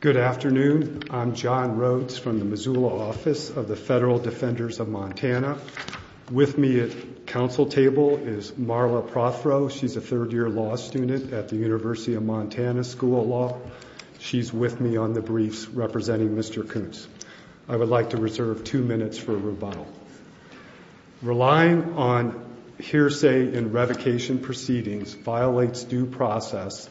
Good afternoon. I'm John Rhodes from the Missoula office of the Federal Defenders of Montana. With me at council table is Marla Prothrow. She's a third-year law student at the University of Montana School of Law. She's with me on the briefs representing Mr. Kuntz. I would like to reserve two minutes for rebuttal. Relying on hearsay in revocation proceedings violates due process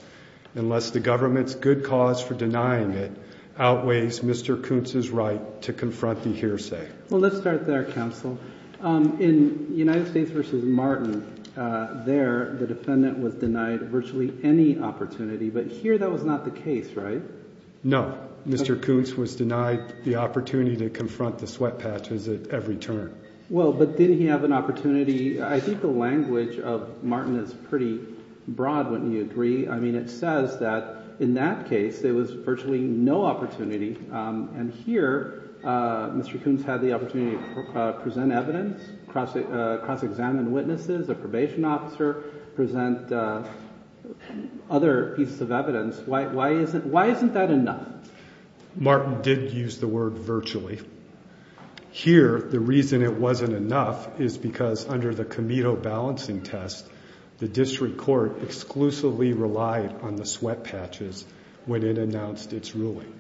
unless the government's good cause for denying it outweighs Mr. Kuntz's right to confront the hearsay. Well, let's start there, counsel. In United States v. Martin, there the defendant was denied virtually any opportunity, but here that was not the case, right? No. Mr. Kuntz was denied the opportunity to confront the sweat patches at every turn. Well, but didn't he have an opportunity – I think the language of Martin is pretty broad, wouldn't you agree? I mean it says that in that case there was virtually no opportunity, and here Mr. Kuntz had the opportunity to present evidence, cross-examine witnesses, a probation officer, present other pieces of evidence. Why isn't that enough? Martin did use the word virtually. Here, the reason it wasn't enough is because under the Comito balancing test, the district court exclusively relied on the sweat patches when it announced its ruling.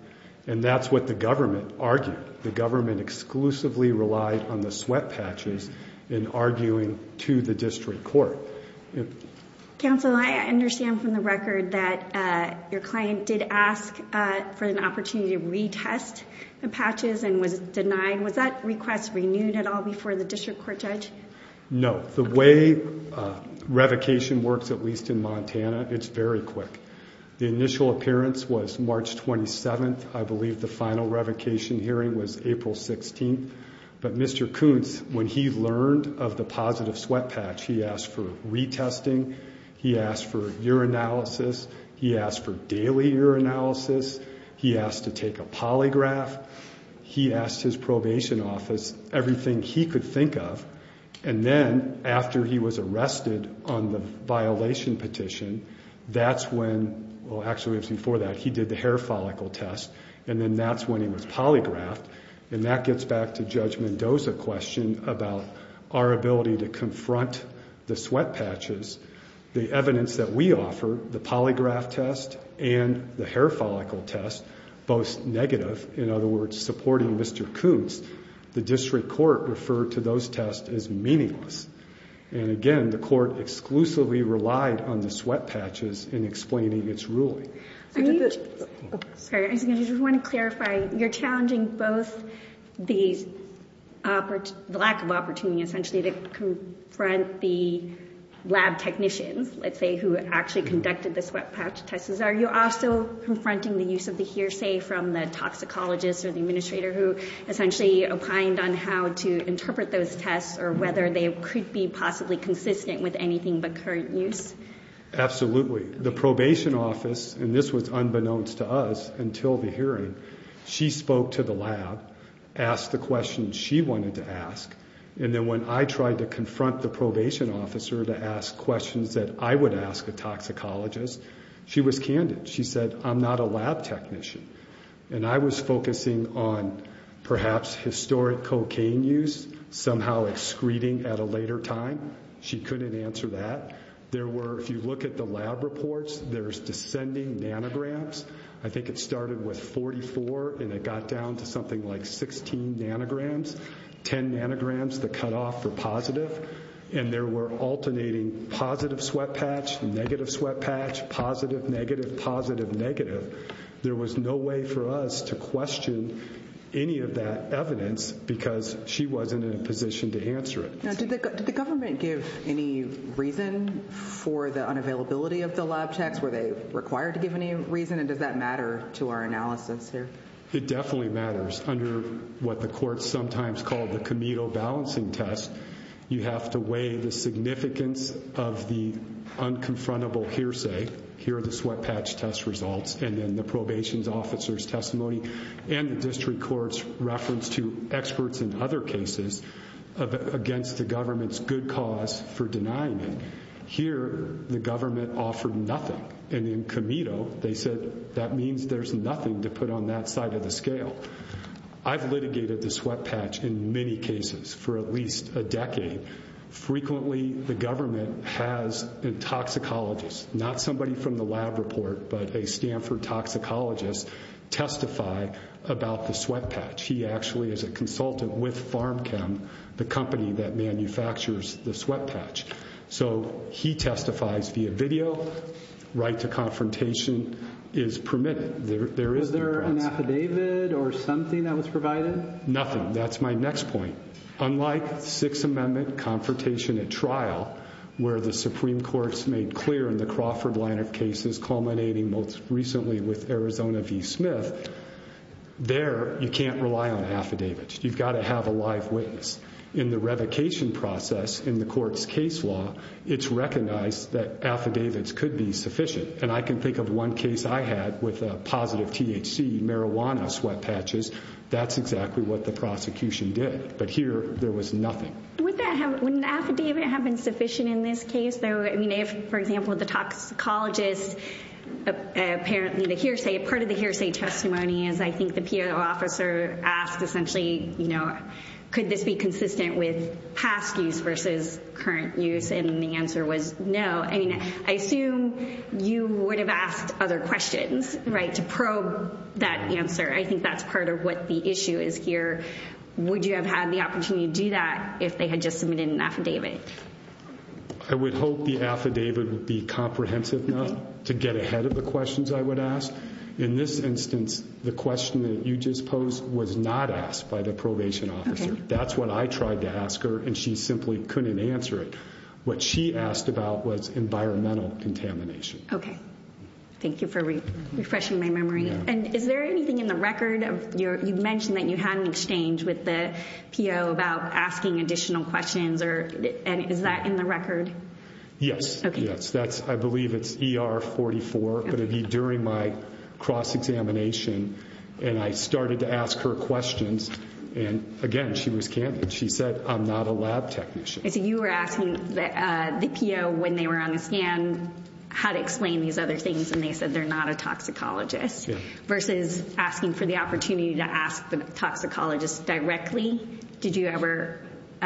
And that's what the government argued. The government exclusively relied on the sweat patches in arguing to the district court. Counsel, I understand from the record that your client did ask for an opportunity to retest the patches and was denied. Was that request renewed at all before the district court judge? No. The way revocation works, at least in Montana, it's very quick. The initial appearance was March 27th. I believe the final revocation hearing was April 16th. But Mr. Kuntz, when he learned of the positive sweat patch, he asked for retesting, he asked for urinalysis, he asked for daily urinalysis, he asked to take a polygraph. He asked his probation office everything he could think of. And then after he was arrested on the violation petition, that's when, well actually it was before that, he did the hair follicle test. And then that's when he was polygraphed. And that gets back to Judge Mendoza's question about our ability to confront the sweat patches. The evidence that we offer, the polygraph test and the hair follicle test, both negative, in other words supporting Mr. Kuntz, the district court referred to those tests as meaningless. And again, the court exclusively relied on the sweat patches in explaining its ruling. I just want to clarify, you're challenging both the lack of opportunity essentially to confront the lab technicians, let's say, who actually conducted the sweat patch tests. Are you also confronting the use of the hearsay from the toxicologist or the administrator who essentially opined on how to interpret those tests or whether they could be possibly consistent with anything but current use? Absolutely. The probation office, and this was unbeknownst to us until the hearing, she spoke to the lab, asked the questions she wanted to ask. And then when I tried to confront the probation officer to ask questions that I would ask a toxicologist, she was candid. She said, I'm not a lab technician. And I was focusing on perhaps historic cocaine use, somehow excreting at a later time. She couldn't answer that. There were, if you look at the lab reports, there's descending nanograms. I think it started with 44 and it got down to something like 16 nanograms, 10 nanograms that cut off for positive. And there were alternating positive sweat patch, negative sweat patch, positive, negative, positive, negative. There was no way for us to question any of that evidence because she wasn't in a position to answer it. Did the government give any reason for the unavailability of the lab checks? Were they required to give any reason? And does that matter to our analysis here? It definitely matters. Under what the courts sometimes call the Comedo Balancing Test, you have to weigh the significance of the unconfrontable hearsay. Here are the sweat patch test results. And then the probation officer's testimony and the district court's reference to experts in other cases against the government's good cause for denying it. Here, the government offered nothing. And in Comedo, they said that means there's nothing to put on that side of the scale. I've litigated the sweat patch in many cases for at least a decade. Frequently, the government has a toxicologist, not somebody from the lab report, but a Stanford toxicologist testify about the sweat patch. He actually is a consultant with PharmChem, the company that manufactures the sweat patch. So he testifies via video. Right to confrontation is permitted. Was there an affidavit or something that was provided? Nothing. That's my next point. Unlike Sixth Amendment confrontation at trial, where the Supreme Court's made clear in the Crawford line of cases culminating most recently with Arizona v. Smith, there you can't rely on affidavits. You've got to have a live witness. In the revocation process in the court's case law, it's recognized that affidavits could be sufficient. And I can think of one case I had with a positive THC marijuana sweat patches. That's exactly what the prosecution did. But here, there was nothing. Wouldn't an affidavit have been sufficient in this case? I mean, if, for example, the toxicologist, apparently part of the hearsay testimony is I think the PO officer asked essentially, you know, could this be consistent with past use versus current use? And the answer was no. I mean, I assume you would have asked other questions, right, to probe that answer. I think that's part of what the issue is here. Would you have had the opportunity to do that if they had just submitted an affidavit? I would hope the affidavit would be comprehensive enough to get ahead of the questions I would ask. In this instance, the question that you just posed was not asked by the probation officer. That's what I tried to ask her, and she simply couldn't answer it. What she asked about was environmental contamination. Okay. Thank you for refreshing my memory. And is there anything in the record? You mentioned that you had an exchange with the PO about asking additional questions. And is that in the record? Yes. Yes. I believe it's ER 44. But it would be during my cross-examination. And I started to ask her questions. And, again, she was candid. She said, I'm not a lab technician. I see you were asking the PO when they were on the scan how to explain these other things. And they said they're not a toxicologist. Yeah. Versus asking for the opportunity to ask the toxicologist directly. Did you ever –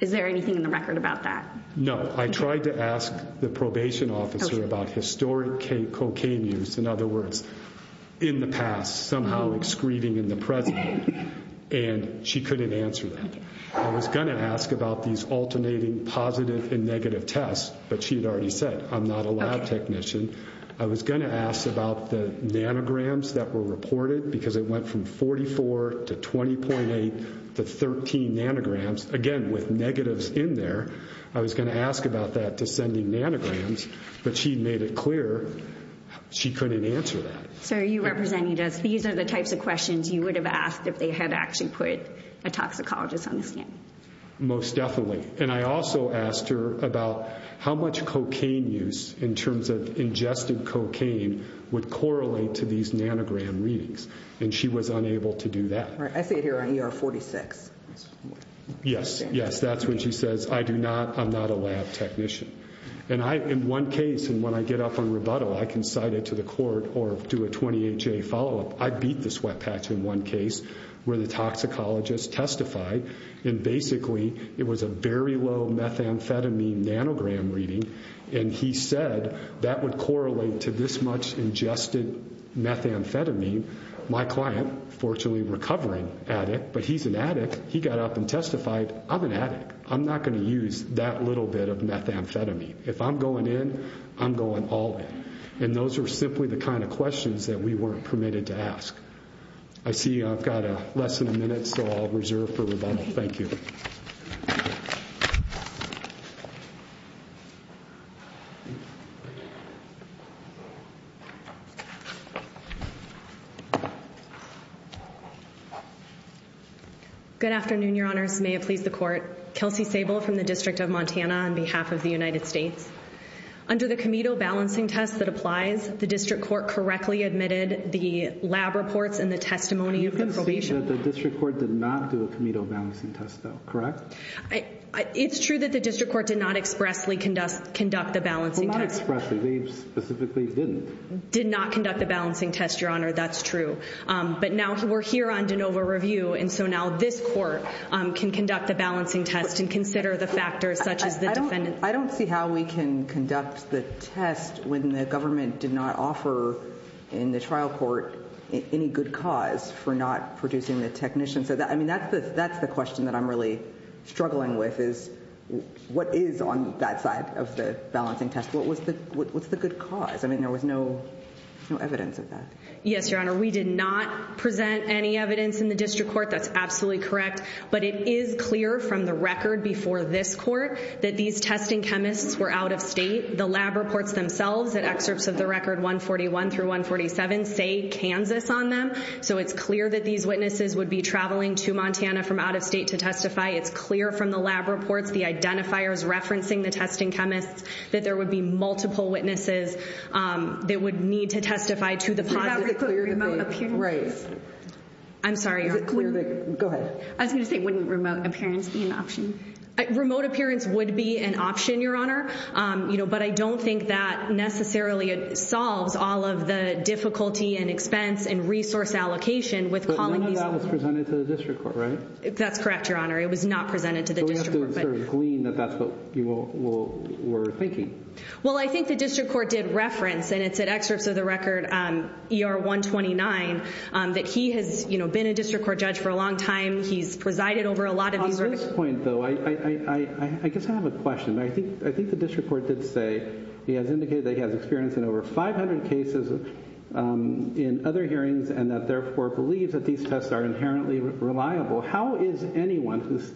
is there anything in the record about that? No. I tried to ask the probation officer about historic cocaine use. In other words, in the past, somehow excreting in the present. And she couldn't answer that. I was going to ask about these alternating positive and negative tests. But she had already said, I'm not a lab technician. I was going to ask about the nanograms that were reported. Because it went from 44 to 20.8 to 13 nanograms. Again, with negatives in there. I was going to ask about that to sending nanograms. But she made it clear she couldn't answer that. Sir, you represented us. These are the types of questions you would have asked if they had actually put a toxicologist on the scan. Most definitely. And I also asked her about how much cocaine use, in terms of ingested cocaine, would correlate to these nanogram readings. And she was unable to do that. I see it here on ER 46. Yes. Yes. That's when she says, I do not – I'm not a lab technician. And I, in one case, and when I get up on rebuttal, I can cite it to the court or do a 28-J follow-up. I beat the sweat patch in one case where the toxicologist testified. And basically, it was a very low methamphetamine nanogram reading. And he said that would correlate to this much ingested methamphetamine. My client, fortunately recovering addict, but he's an addict. He got up and testified, I'm an addict. I'm not going to use that little bit of methamphetamine. If I'm going in, I'm going all in. And those are simply the kind of questions that we weren't permitted to ask. I see I've got less than a minute, so I'll reserve for rebuttal. Thank you. Good afternoon, Your Honors. May it please the Court. Kelsey Sable from the District of Montana on behalf of the United States. Under the Comito balancing test that applies, the District Court correctly admitted the lab reports and the testimony of the probation. You're going to say that the District Court did not do a Comito balancing test, though, correct? It's true that the District Court did not expressly conduct the balancing test. Well, not expressly. They specifically didn't. Did not conduct the balancing test, Your Honor. That's true. But now we're here on DeNova review, and so now this court can conduct the balancing test and consider the factors such as the defendant. I don't see how we can conduct the test when the government did not offer in the trial court any good cause for not producing the technician. I mean, that's the question that I'm really struggling with, is what is on that side of the balancing test? What's the good cause? I mean, there was no evidence of that. Yes, Your Honor, we did not present any evidence in the District Court. That's absolutely correct. But it is clear from the record before this court that these testing chemists were out of state. The lab reports themselves and excerpts of the record 141 through 147 say Kansas on them. So it's clear that these witnesses would be traveling to Montana from out of state to testify. It's clear from the lab reports, the identifiers referencing the testing chemists, that there would be multiple witnesses that would need to testify to the positive. Right. I'm sorry. Go ahead. I was going to say, wouldn't remote appearance be an option? Remote appearance would be an option, Your Honor, but I don't think that necessarily solves all of the difficulty and expense and resource allocation with calling these witnesses. But none of that was presented to the District Court, right? That's correct, Your Honor. It was not presented to the District Court. So we have to sort of glean that that's what you were thinking. Well, I think the District Court did reference, and it's at excerpts of the record ER 129, that he has been a District Court judge for a long time. He's presided over a lot of these— On this point, though, I guess I have a question. I think the District Court did say he has indicated that he has experience in over 500 cases in other hearings and that therefore believes that these tests are inherently reliable. How is anyone who's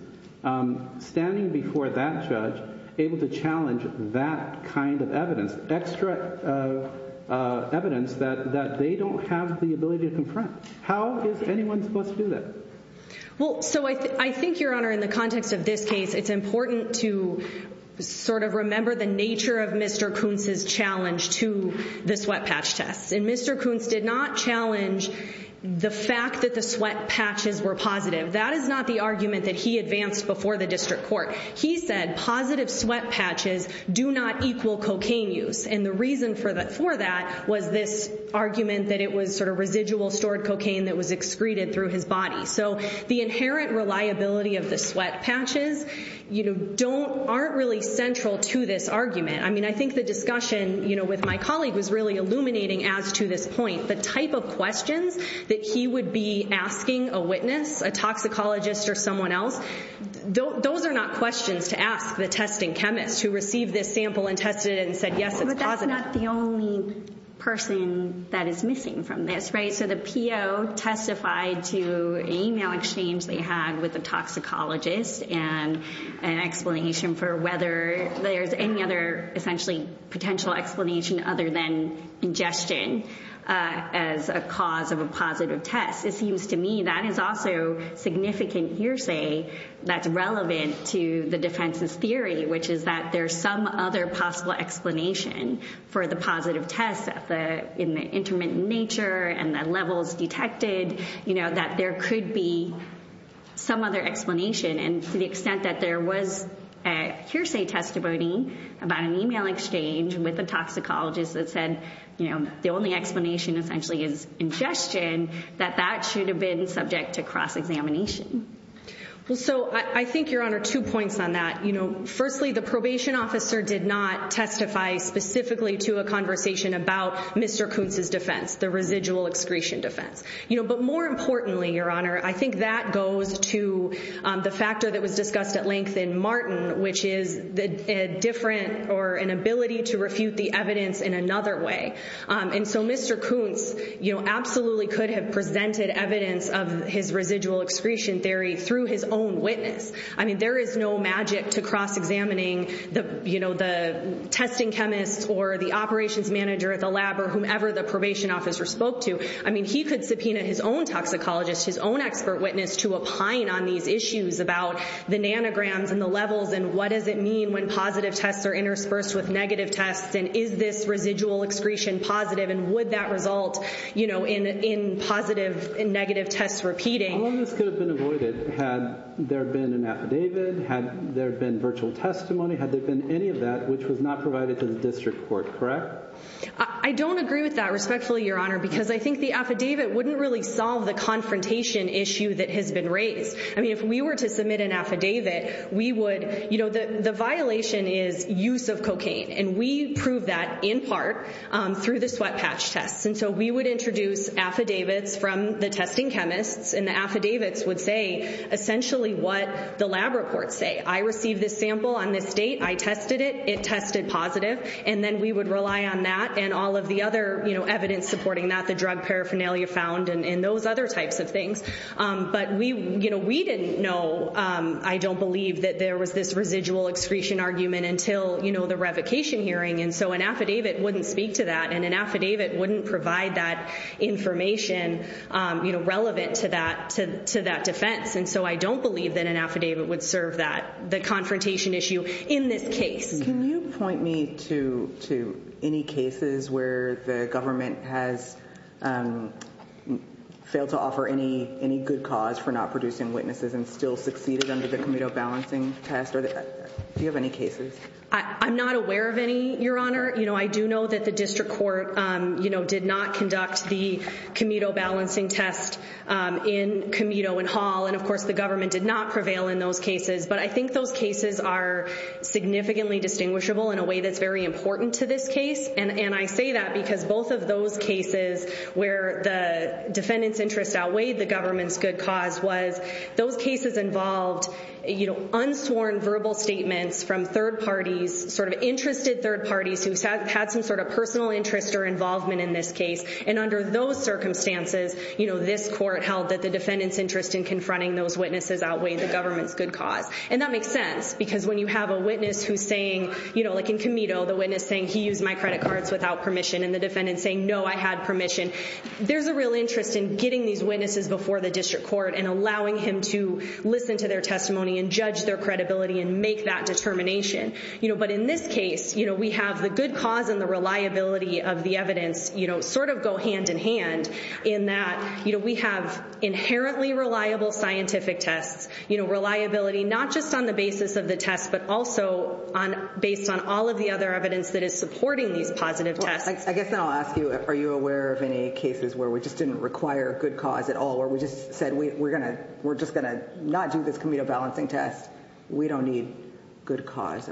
standing before that judge able to challenge that kind of evidence, extra evidence that they don't have the ability to confront? How is anyone supposed to do that? Well, so I think, Your Honor, in the context of this case, it's important to sort of remember the nature of Mr. Kuntz's challenge to the sweat patch test. And Mr. Kuntz did not challenge the fact that the sweat patches were positive. That is not the argument that he advanced before the District Court. He said positive sweat patches do not equal cocaine use. And the reason for that was this argument that it was sort of residual stored cocaine that was excreted through his body. So the inherent reliability of the sweat patches aren't really central to this argument. I mean, I think the discussion with my colleague was really illuminating as to this point. The type of questions that he would be asking a witness, a toxicologist or someone else, those are not questions to ask the testing chemist who received this sample and tested it and said, yes, it's positive. But that's not the only person that is missing from this, right? So the PO testified to an email exchange they had with the toxicologist and an explanation for whether there's any other essentially potential explanation other than ingestion as a cause of a positive test. It seems to me that is also significant hearsay that's relevant to the defense's theory, which is that there's some other possible explanation for the positive test in the intermittent nature and the levels detected that there could be some other explanation. And to the extent that there was a hearsay testimony about an email exchange with a toxicologist that said the only explanation essentially is ingestion, that that should have been subject to cross-examination. Well, so I think, Your Honor, two points on that. Firstly, the probation officer did not testify specifically to a conversation about Mr. Kuntz's defense, the residual excretion defense. But more importantly, Your Honor, I think that goes to the factor that was discussed at length in Martin, which is a different or an ability to refute the evidence in another way. And so Mr. Kuntz absolutely could have presented evidence of his residual excretion theory through his own witness. I mean, there is no magic to cross-examining the testing chemist or the operations manager at the lab or whomever the probation officer spoke to. I mean, he could subpoena his own toxicologist, his own expert witness to opine on these issues about the nanograms and the levels and what does it mean when positive tests are interspersed with negative tests. And is this residual excretion positive? And would that result in positive and negative tests repeating? All of this could have been avoided had there been an affidavit, had there been virtual testimony, had there been any of that which was not provided to the district court, correct? I don't agree with that respectfully, Your Honor, because I think the affidavit wouldn't really solve the confrontation issue that has been raised. I mean, if we were to submit an affidavit, we would, you know, the violation is use of cocaine. And we prove that in part through the sweat patch tests. And so we would introduce affidavits from the testing chemists and the affidavits would say essentially what the lab reports say. I received this sample on this date. I tested it. It tested positive. And then we would rely on that and all of the other, you know, evidence supporting that, the drug paraphernalia found and those other types of things. But we, you know, we didn't know, I don't believe that there was this residual excretion argument until, you know, the revocation hearing. And so an affidavit wouldn't speak to that. And an affidavit wouldn't provide that information, you know, relevant to that defense. And so I don't believe that an affidavit would serve that, the confrontation issue in this case. Can you point me to any cases where the government has failed to offer any good cause for not producing witnesses and still succeeded under the Comito balancing test? Do you have any cases? I'm not aware of any, Your Honor. You know, I do know that the district court, you know, did not conduct the Comito balancing test in Comito and Hall. And, of course, the government did not prevail in those cases. But I think those cases are significantly distinguishable in a way that's very important to this case. And I say that because both of those cases where the defendant's interest outweighed the government's good cause was those cases involved, you know, unsworn verbal statements from third parties, sort of interested third parties who had some sort of personal interest or involvement in this case. And under those circumstances, you know, this court held that the defendant's interest in confronting those witnesses outweighed the government's good cause. And that makes sense because when you have a witness who's saying, you know, like in Comito, the witness saying, he used my credit cards without permission and the defendant saying, no, I had permission. There's a real interest in getting these witnesses before the district court and allowing him to listen to their testimony and judge their credibility and make that determination. You know, but in this case, you know, we have the good cause and the reliability of the evidence, you know, sort of go hand in hand in that, you know, we have inherently reliable scientific tests, you know, reliability, not just on the basis of the test, but also on based on all of the other evidence that is supporting these positive tests. I guess I'll ask you, are you aware of any cases where we just didn't require good cause at all, or we just said, we're going to, we're just going to not do this Comito balancing test. We don't need good cause.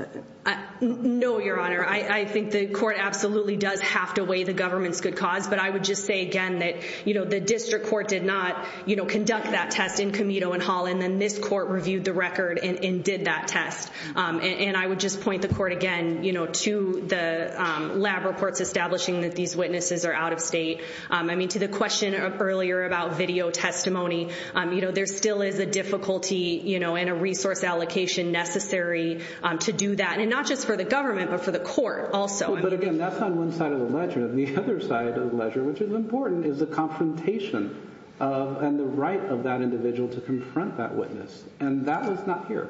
No, Your Honor, I think the court absolutely does have to weigh the government's good cause. But I would just say again that, you know, the district court did not, you know, conduct that test in Comito and Hall and then this court reviewed the record and did that test. And I would just point the court again, you know, to the lab reports establishing that these witnesses are out of state. I mean, to the question of earlier about video testimony, you know, there still is a difficulty, you know, and a resource allocation necessary to do that. And not just for the government, but for the court also. But again, that's on one side of the ledger and the other side of the ledger, which is important, is the confrontation and the right of that individual to confront that witness. And that is not here.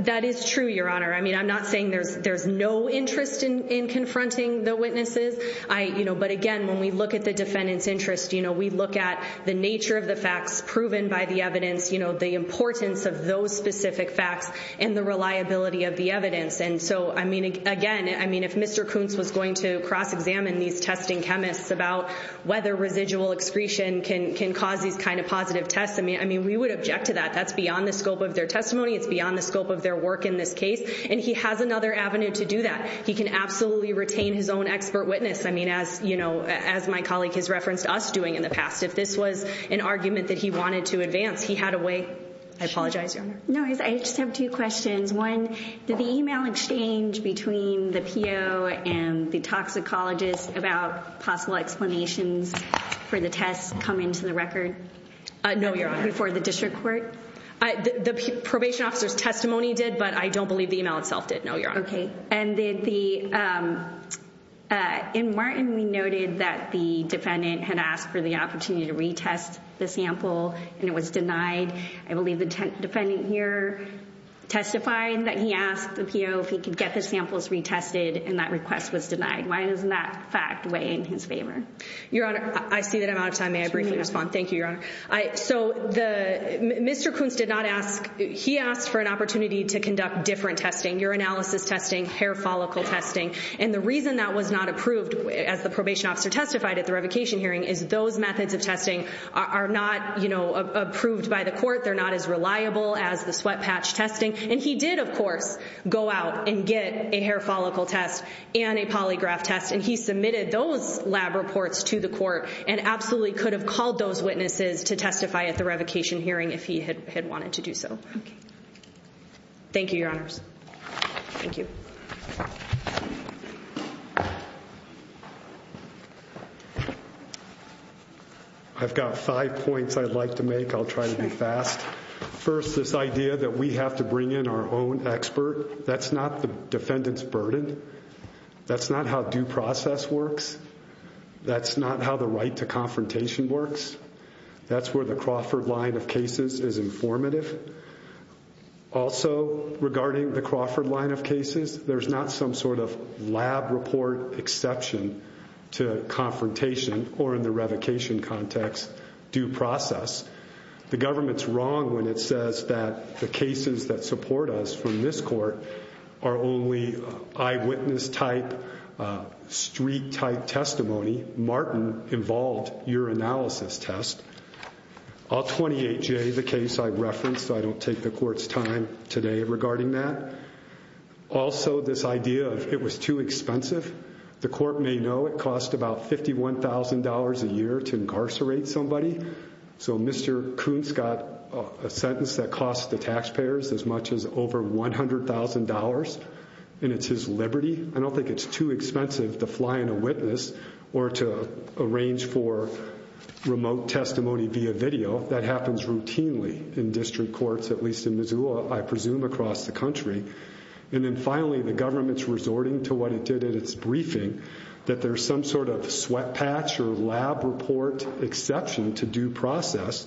That is true, Your Honor. I mean, I'm not saying there's there's no interest in confronting the witnesses. I you know, but again, when we look at the defendant's interest, you know, we look at the nature of the facts proven by the evidence, you know, the importance of those specific facts and the reliability of the evidence. And so, I mean, again, I mean, if Mr. Kuntz was going to cross examine these testing chemists about whether residual excretion can can cause these kind of positive tests. I mean, I mean, we would object to that. That's beyond the scope of their testimony. It's beyond the scope of their work in this case. And he has another avenue to do that. He can absolutely retain his own expert witness. I mean, as you know, as my colleague has referenced us doing in the past, if this was an argument that he wanted to advance, he had a way. I apologize, Your Honor. No, I just have two questions. One, did the email exchange between the PO and the toxicologist about possible explanations for the test come into the record? No, Your Honor. Before the district court? The probation officer's testimony did, but I don't believe the email itself did. No, Your Honor. OK, and then the in Martin, we noted that the defendant had asked for the opportunity to retest the sample and it was denied. I believe the defendant here testified that he asked the PO if he could get the samples retested and that request was denied. Why doesn't that fact weigh in his favor? Your Honor, I see that I'm out of time. May I briefly respond? Thank you, Your Honor. So, Mr. Kuntz did not ask, he asked for an opportunity to conduct different testing, urinalysis testing, hair follicle testing. And the reason that was not approved, as the probation officer testified at the revocation hearing, is those methods of testing are not approved by the court. They're not as reliable as the sweat patch testing. And he did, of course, go out and get a hair follicle test and a polygraph test. And he submitted those lab reports to the court and absolutely could have called those witnesses to testify at the revocation hearing if he had wanted to do so. Thank you, Your Honors. Thank you. I've got five points I'd like to make. I'll try to be fast. First, this idea that we have to bring in our own expert. That's not the defendant's burden. That's not how due process works. That's not how the right to confrontation works. That's where the Crawford line of cases is informative. Also, regarding the Crawford line of cases, there's not some sort of lab report exception to confrontation or, in the revocation context, due process. The government's wrong when it says that the cases that support us from this court are only eyewitness-type, street-type testimony. Martin involved urinalysis test. All 28J, the case I referenced, I don't take the court's time today regarding that. Also, this idea of it was too expensive. The court may know it cost about $51,000 a year to incarcerate somebody. So Mr. Kuntz got a sentence that cost the taxpayers as much as over $100,000, and it's his liberty. I don't think it's too expensive to fly in a witness or to arrange for remote testimony via video. That happens routinely in district courts, at least in Missoula, I presume across the country. And then finally, the government's resorting to what it did at its briefing, that there's some sort of sweat patch or lab report exception to due process,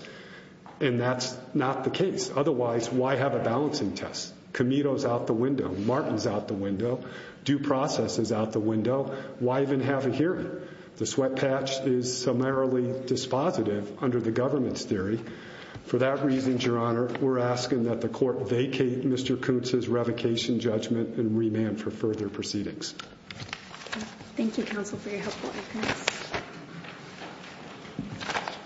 and that's not the case. Otherwise, why have a balancing test? Comedo's out the window. Martin's out the window. Due process is out the window. Why even have a hearing? The sweat patch is summarily dispositive under the government's theory. For that reason, Your Honor, we're asking that the court vacate Mr. Kuntz's revocation judgment and remand for further proceedings. Thank you, counsel, for your helpful evidence.